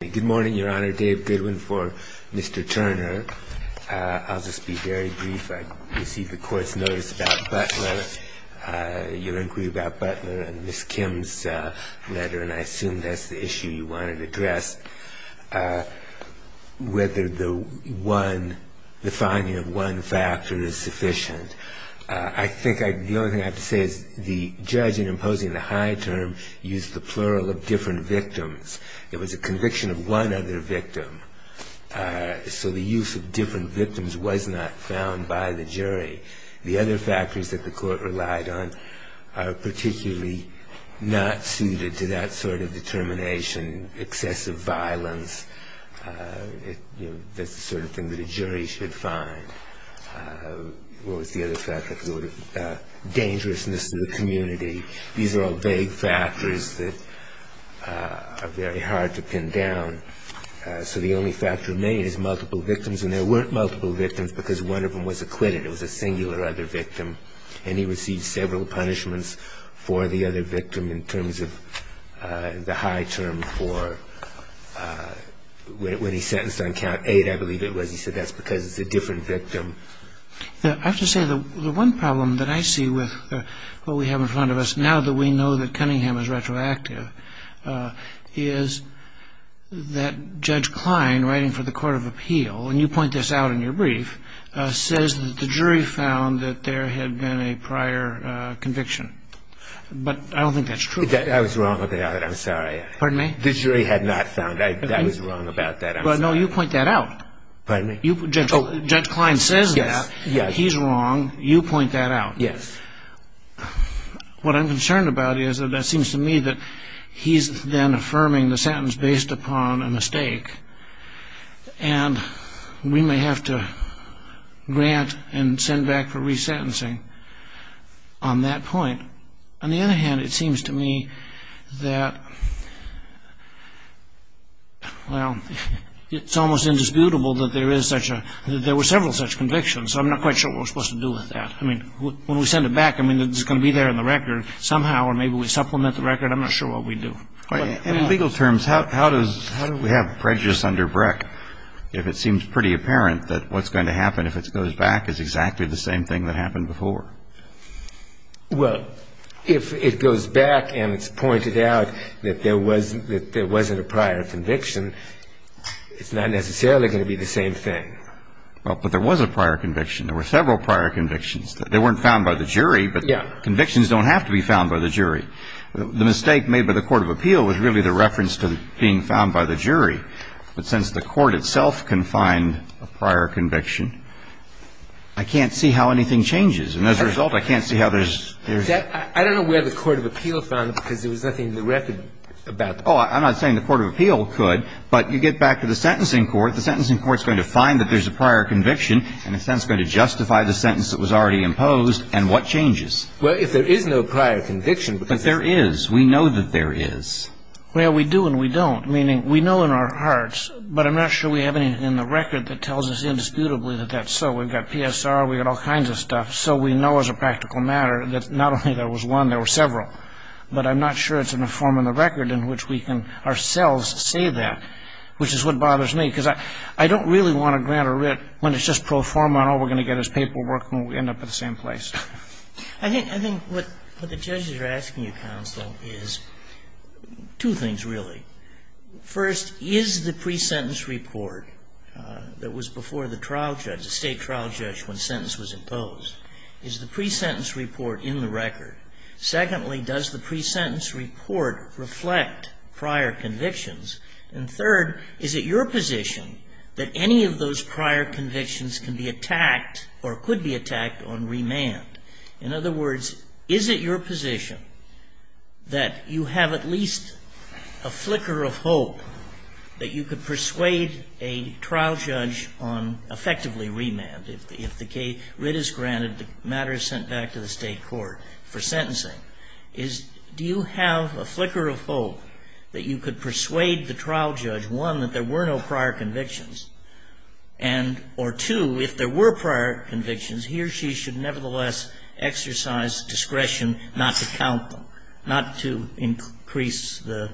Good morning, Your Honor. Dave Goodwin for Mr. Turner. I'll just be very brief. I received a court's notice about Butler, your inquiry about Butler, and Ms. Kim's letter, and I assume that's the issue you wanted to address, whether the finding of one factor is sufficient. I think the only thing I have to say is the judge in imposing the high term used the plural of different victims. It was a conviction of one other victim, so the use of different victims was not found by the jury. The other factors that the court relied on are particularly not suited to that sort of determination. Excessive violence, that's the sort of thing that a jury should find. What was the other factor? Dangerousness to the community. These are all vague factors that are very hard to pin down. So the only factor made is multiple victims, and there weren't multiple victims because one of them was acquitted. It was a singular other victim, and he received several punishments for the other victim in terms of the high term for when he sentenced on count eight, I believe it was. He said that's because it's a different victim. I have to say the one problem that I see with what we have in front of us now that we know that Cunningham is retroactive is that Judge Klein writing for the Court of Appeal, and you point this out in your brief, says that the jury found that there had been a prior conviction. But I don't think that's true. I was wrong about it. I'm sorry. Pardon me? The jury had not found that. I was wrong about that. Well, no, you point that out. Pardon me? Judge Klein says that. He's wrong. You point that out. Yes. What I'm concerned about is that it seems to me that he's then affirming the sentence based upon a mistake, and we may have to grant and send back for resentencing on that point. On the other hand, it seems to me that, well, it's almost indisputable that there were several such convictions, so I'm not quite sure what we're supposed to do with that. I mean, when we send it back, I mean, is it going to be there in the record somehow, or maybe we supplement the record? I'm not sure what we do. In legal terms, how does we have prejudice under Breck if it seems pretty apparent that what's going to happen if it goes back is exactly the same thing that happened before? Well, if it goes back and it's pointed out that there wasn't a prior conviction, it's not necessarily going to be the same thing. Well, but there was a prior conviction. There were several prior convictions. They weren't found by the jury, but convictions don't have to be found by the jury. The mistake made by the court of appeal was really the reference to being found by the jury. But since the court itself can find a prior conviction, I can't see how anything changes. And as a result, I can't see how there's – I don't know where the court of appeal found it because there was nothing in the record about that. Oh, I'm not saying the court of appeal could, but you get back to the sentencing court, the sentencing court's going to find that there's a prior conviction and in a sense going to justify the sentence that was already imposed, and what changes? Well, if there is no prior conviction – But there is. We know that there is. Well, we do and we don't, meaning we know in our hearts, but I'm not sure we have anything in the record that tells us indisputably that that's so. We've got PSR. We've got all kinds of stuff. So we know as a practical matter that not only there was one, there were several. But I'm not sure it's in the form of the record in which we can ourselves say that, which is what bothers me. Because I don't really want to grant a writ when it's just pro forma and all we're going to get is paperwork and we end up at the same place. I think what the judges are asking you, counsel, is two things really. First, is the pre-sentence report that was before the trial judge, the State trial judge when sentence was imposed, is the pre-sentence report in the record? Secondly, does the pre-sentence report reflect prior convictions? And third, is it your position that any of those prior convictions can be attacked or could be attacked on remand? In other words, is it your position that you have at least a flicker of hope that you could persuade a trial judge on effectively remand? If the writ is granted, the matter is sent back to the State court for sentencing. Do you have a flicker of hope that you could persuade the trial judge, one, that there were no prior convictions, and or two, if there were prior convictions, he or she should nevertheless exercise discretion not to count them, not to increase the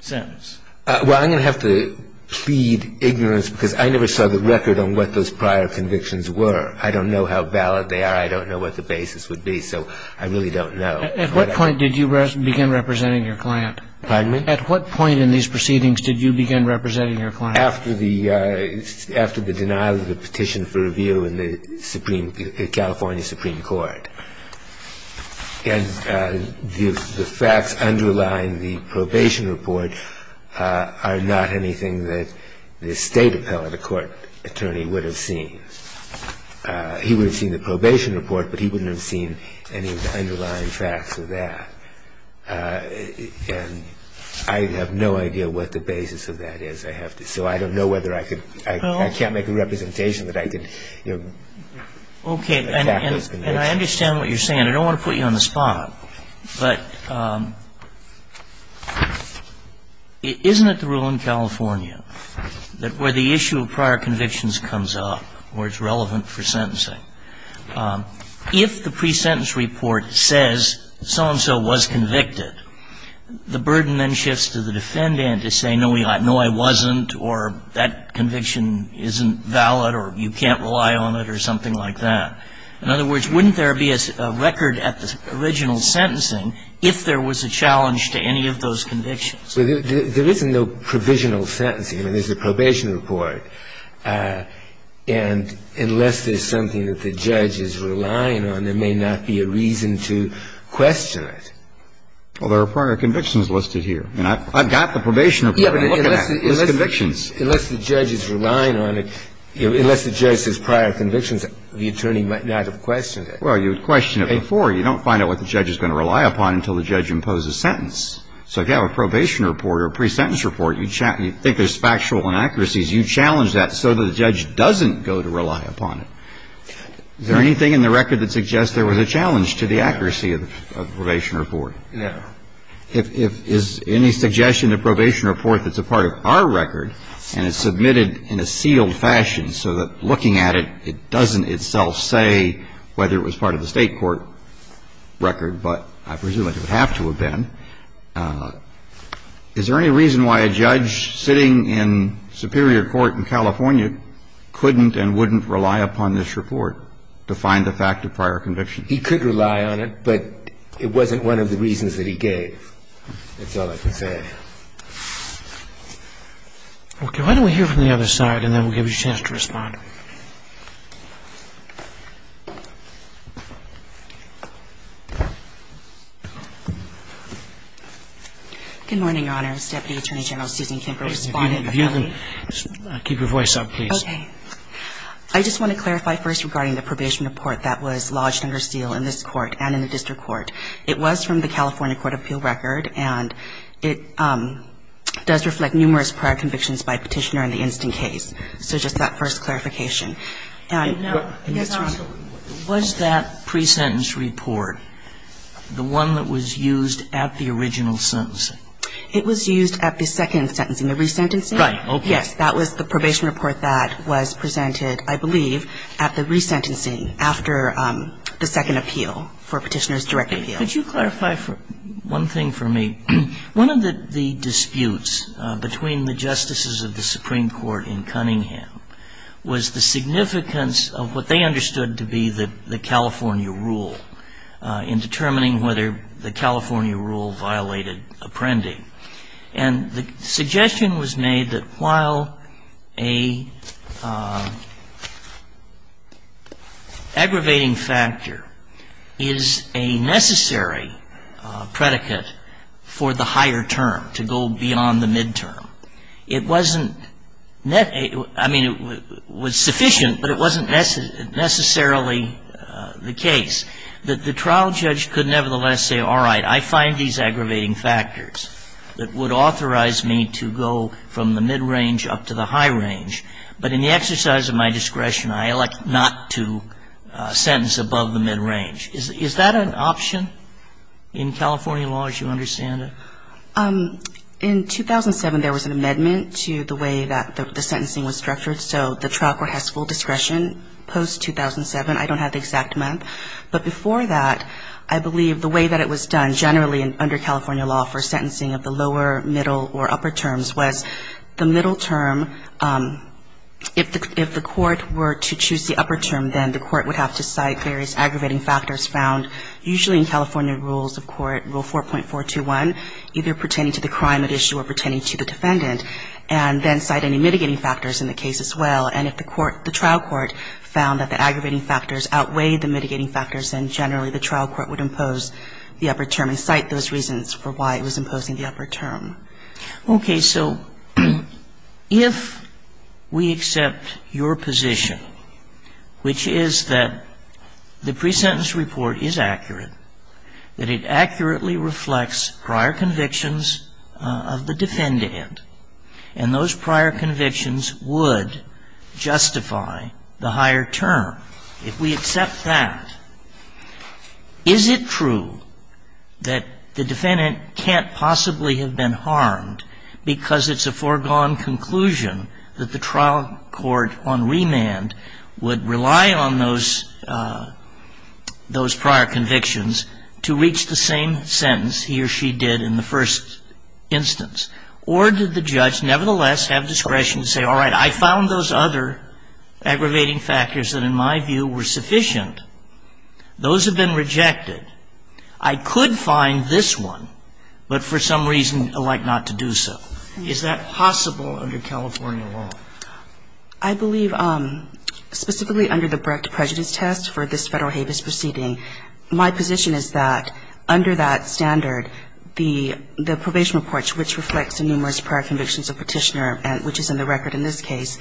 sentence? Well, I'm going to have to plead ignorance because I never saw the record on what those prior convictions were. I don't know how valid they are. I don't know what the basis would be. So I really don't know. At what point did you begin representing your client? Pardon me? At what point in these proceedings did you begin representing your client? After the denial of the petition for review in the California Supreme Court. And the facts underlying the probation report are not anything that the State appellate, a court attorney, would have seen. He would have seen the probation report, but he wouldn't have seen any of the underlying facts of that. And I have no idea what the basis of that is. So I don't know whether I could – I can't make a representation that I could attack those convictions. Okay. And I understand what you're saying. I don't want to put you on the spot. But isn't it the rule in California that where the issue of prior convictions comes up where it's relevant for sentencing, if the pre-sentence report says so-and-so was convicted, the burden then shifts to the defendant to say, no, I wasn't or that conviction isn't valid or you can't rely on it or something like that. In other words, wouldn't there be a record at the original sentencing if there was a challenge to any of those convictions? There isn't no provisional sentencing. There's a probation report. And unless there's something that the judge is relying on, there may not be a reason to question it. Well, there are prior convictions listed here. I mean, I've got the probation report. Yeah, but unless the judge is relying on it, unless the judge says prior convictions, the attorney might not have questioned it. Well, you would question it before. You don't find out what the judge is going to rely upon until the judge imposes sentence. So if you have a probation report or a pre-sentence report, you think there's factual inaccuracies, you challenge that so that the judge doesn't go to rely upon it. Is there anything in the record that suggests there was a challenge to the accuracy of the probation report? No. Is any suggestion to probation report that's a part of our record and it's submitted in a sealed fashion so that looking at it, it doesn't itself say whether it was part of the state court record, but I presume it would have to have been. Is there any reason why a judge sitting in superior court in California couldn't and wouldn't rely upon this report to find the fact of prior conviction? He could rely on it, but it wasn't one of the reasons that he gave. That's all I can say. Okay. Why don't we hear from the other side, and then we'll give you a chance to respond. Good morning, Your Honor. This is Deputy Attorney General Susan Kemper, respondent of LA. If you can keep your voice up, please. Okay. I just want to clarify first regarding the probation report that was lodged under seal in this court and in the district court. It was from the California Court of Appeal record, and it does reflect numerous prior convictions by petitioner in the instant case. So just that first clarification. Was that pre-sentence report the one that was used at the original sentencing? It was used at the second sentencing, the resentencing. Right. Okay. Yes. That was the probation report that was presented, I believe, at the resentencing after the second appeal for petitioner's direct appeal. Could you clarify one thing for me? One of the disputes between the justices of the Supreme Court in Cunningham was that there was the significance of what they understood to be the California rule in determining whether the California rule violated apprending. And the suggestion was made that while an aggravating factor is a necessary predicate for the higher term to go beyond the midterm, it wasn't net – I mean, it was sufficient, but it wasn't necessarily the case. That the trial judge could nevertheless say, all right, I find these aggravating factors that would authorize me to go from the midrange up to the high range, but in the exercise of my discretion, I elect not to sentence above the midrange. Is that an option in California law as you understand it? In 2007, there was an amendment to the way that the sentencing was structured, so the trial court has full discretion post-2007. I don't have the exact month. But before that, I believe the way that it was done generally under California law for sentencing of the lower, middle or upper terms was the middle term, if the court were to choose the upper term, then the court would have to cite various reasons for why it was imposing the upper term. And if the trial court found that the aggravating factors outweighed the mitigating factors, then generally the trial court would impose the upper term and cite those reasons for why it was imposing the upper term. Okay. So if we accept your position, which is that the pre-sentence report is accurate, that it accurately reflects prior convictions of the defendant, and those prior convictions would justify the higher term, if we accept that, is it true that the defendant can't possibly have been harmed because it's a foregone conclusion that the trial court on remand would rely on those prior convictions to justify conclusion that the trial court on remand would rely on those prior convictions to reach the same sentence he or she did in the first instance? Or did the judge nevertheless have discretion to say all right, I found those other aggravating factors that in my view were sufficient, those have been rejected, I could find this one, but for some reason I'd like not to do so? Is that possible under California law? I believe specifically under the Brecht prejudice test for this Federal HABIS proceeding, my position is that under that standard, the probation report, which reflects the numerous prior convictions of Petitioner, which is in the record in this case,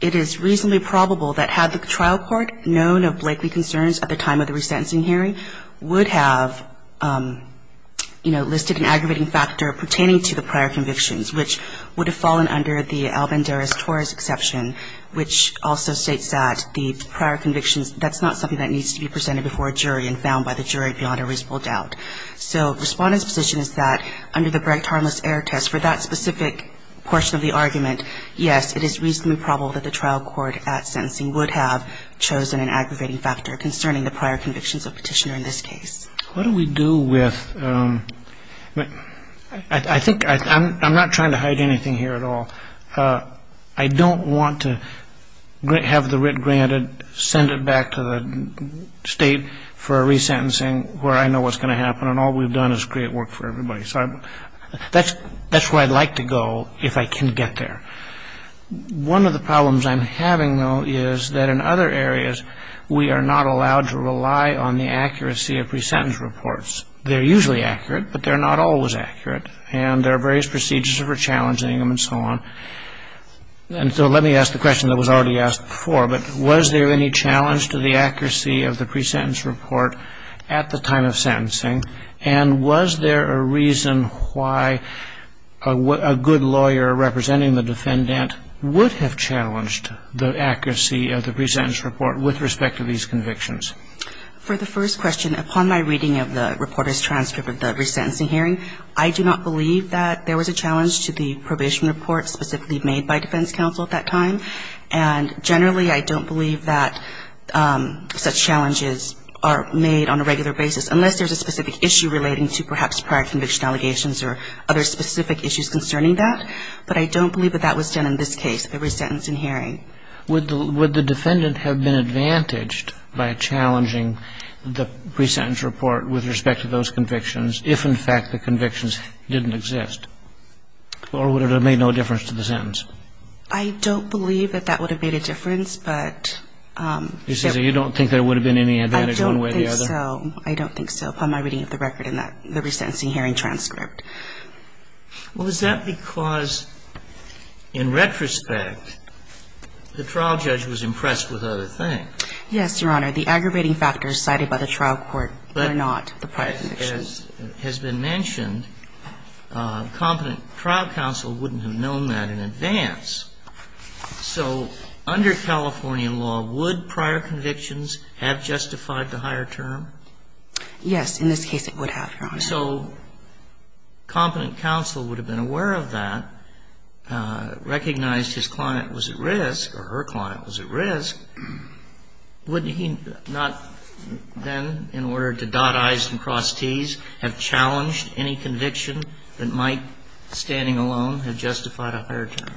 it is reasonably probable that had the trial court known of likely concerns at the time of the resentencing hearing, would have, you know, listed an aggravating factor pertaining to the prior convictions, which would have fallen under the Alvanderez-Torres exception, which also states that the prior convictions, that's not something that needs to be presented before a jury and found by the jury beyond a reasonable doubt. So the Respondent's position is that under the Brecht harmless error test, for that specific portion of the argument, yes, it is reasonably probable that the trial court at sentencing would have chosen an aggravating factor concerning the prior convictions of Petitioner in this case. What do we do with, I think, I'm not trying to hide anything here at all. I don't want to have the writ granted, send it back to the State for a resentencing where I know what's going to happen, and all we've done is create work for everybody. So that's where I'd like to go if I can get there. One of the problems I'm having, though, is that in other areas we are not allowed to rely on the accuracy of pre-sentence reports. They're usually accurate, but they're not always accurate, and there are various procedures for challenging them and so on. And so let me ask the question that was already asked before, but was there any challenge to the accuracy of the pre-sentence report at the time of sentencing, and was there a reason why a good lawyer representing the defendant would have challenged the accuracy of the pre-sentence report with respect to these convictions? For the first question, upon my reading of the reporter's transcript of the resentencing hearing, I do not believe that there was a challenge to the probation report specifically made by defense counsel at that time, and generally I don't believe that such challenges are made on a regular basis, unless there's a specific issue relating to perhaps prior conviction allegations or other specific issues concerning that. But I don't believe that that was done in this case, the resentencing hearing. Would the defendant have been advantaged by challenging the pre-sentence report with respect to those convictions if, in fact, the convictions didn't exist? Or would it have made no difference to the sentence? I don't believe that that would have made a difference, but there – So I don't think so. Upon my reading of the record in the resentencing hearing transcript. Well, is that because, in retrospect, the trial judge was impressed with other things? Yes, Your Honor. The aggravating factors cited by the trial court were not the prior convictions. But as has been mentioned, competent trial counsel wouldn't have known that in advance. So under California law, would prior convictions have justified the higher term? Yes. In this case, it would have, Your Honor. So competent counsel would have been aware of that, recognized his client was at risk or her client was at risk. Wouldn't he not then, in order to dot I's and cross T's, have challenged any conviction that might, standing alone, have justified a higher term?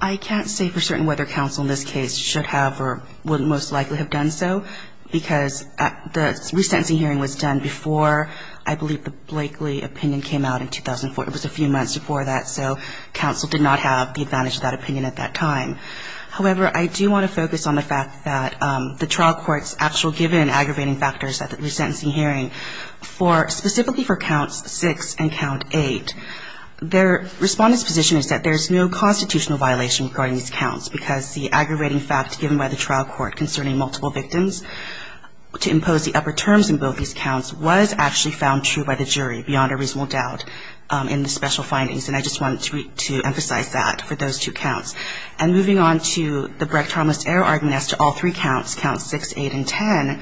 I can't say for certain whether counsel in this case should have or would most likely have done so, because the resentencing hearing was done before, I believe, the Blakeley opinion came out in 2004. It was a few months before that, so counsel did not have the advantage of that opinion at that time. However, I do want to focus on the fact that the trial court's actual given aggravating factors at the resentencing hearing for – specifically for counts six and count eight. Their respondent's position is that there's no constitutional violation regarding these counts, because the aggravating fact given by the trial court concerning multiple victims to impose the upper terms in both these counts was actually found true by the jury beyond a reasonable doubt in the special findings. And I just wanted to emphasize that for those two counts. And moving on to the Brecht-Thomas-Ehrhardt-Ness to all three counts, counts six, eight, and ten,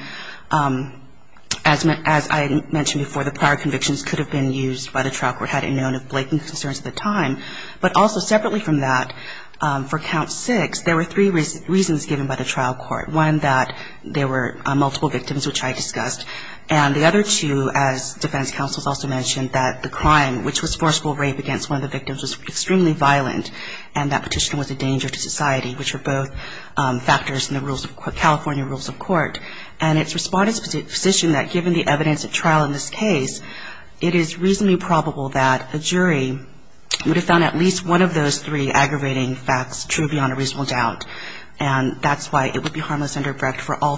as I mentioned before, the prior convictions could have been used by the trial court had it known of Blakeley's concerns at the time. But also separately from that, for count six, there were three reasons given by the trial court. One, that there were multiple victims, which I discussed. And the other two, as defense counsels also mentioned, that the crime, which was forceful rape against one of the victims, was extremely violent, and that petition was a danger to society, which are both factors in the California rules of court. And its respondent's position that given the evidence at trial in this case, it is reasonably probable that a jury would have found at least one of those three aggravating facts true beyond a reasonable doubt. And that's why it would be harmless under Brecht for all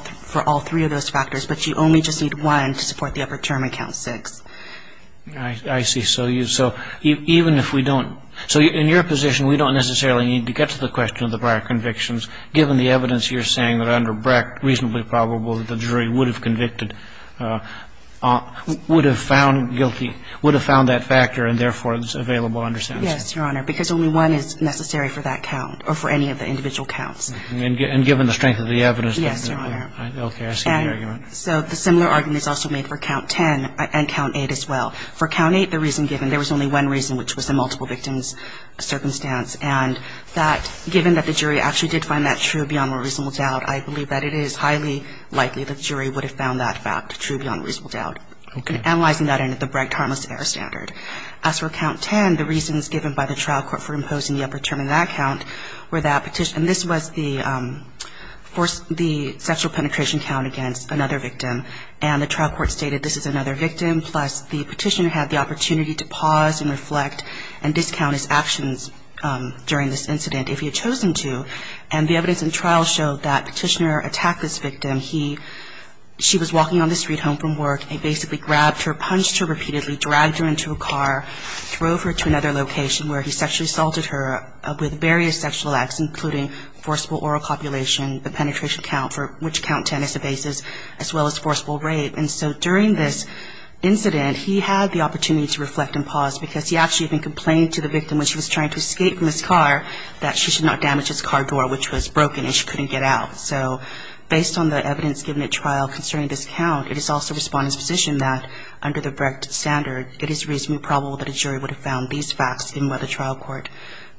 three of those factors. But you only just need one to support the upper term in count six. I see. So even if we don't – so in your position, we don't necessarily need to get to the question of the prior convictions given the evidence you're saying that under Brecht reasonably probable that the jury would have convicted – would have found guilty would have found that factor and, therefore, it's available under sentence. Yes, Your Honor, because only one is necessary for that count or for any of the individual counts. And given the strength of the evidence. Yes, Your Honor. Okay. I see the argument. So the similar argument is also made for count ten and count eight as well. For count eight, the reason given, there was only one reason, which was the multiple victims circumstance. And that, given that the jury actually did find that true beyond a reasonable doubt, I believe that it is highly likely the jury would have found that fact true beyond a reasonable doubt. Okay. And analyzing that under the Brecht harmless error standard. As for count ten, the reasons given by the trial court for imposing the upper term in that count were that – and this was the sexual penetration count against another victim. And the trial court stated this is another victim, plus the petitioner had the opportunity to pause and reflect and discount his actions during this incident if he had chosen to. And the evidence in trial showed that petitioner attacked this victim. He – she was walking on the street home from work. He basically grabbed her, punched her repeatedly, dragged her into a car, drove her to another location where he sexually assaulted her with various sexual acts, including forcible oral copulation, the penetration count, for which count ten is the basis, as well as forcible rape. And so during this incident, he had the opportunity to reflect and pause because he actually even complained to the victim when she was trying to escape from this car that she should not damage his car door, which was broken and she couldn't get out. So based on the evidence given at trial concerning this count, it is also Respondent's position that under the Brecht standard, it is reasonably probable that a jury would have found these facts in whether trial court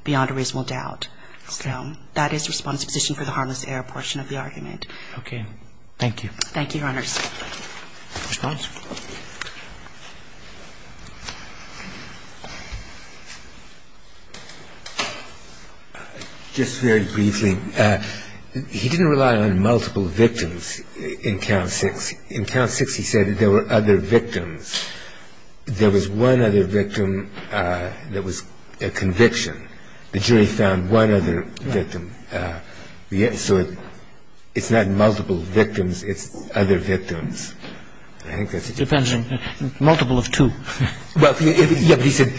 beyond a reasonable doubt. So that is Respondent's position for the harmless air portion of the argument. Okay. Thank you. Thank you, Your Honors. Just very briefly, he didn't rely on multiple victims in count six. In count six, he said that there were other victims. There was one other victim that was a conviction. The jury found one other victim. So it's not multiple victims, it's other victims. I think that's a good point. It depends. Multiple of two. Yeah, but he said,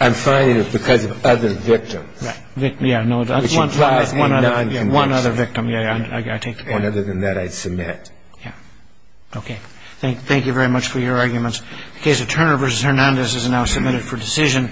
I'm finding it because of other victims. Yeah, no. Which implies a non-conviction. One other victim, yeah. I take that. And other than that, I submit. Yeah. Okay. Thank you very much for your arguments. The case of Turner v. Hernandez is now submitted for decision.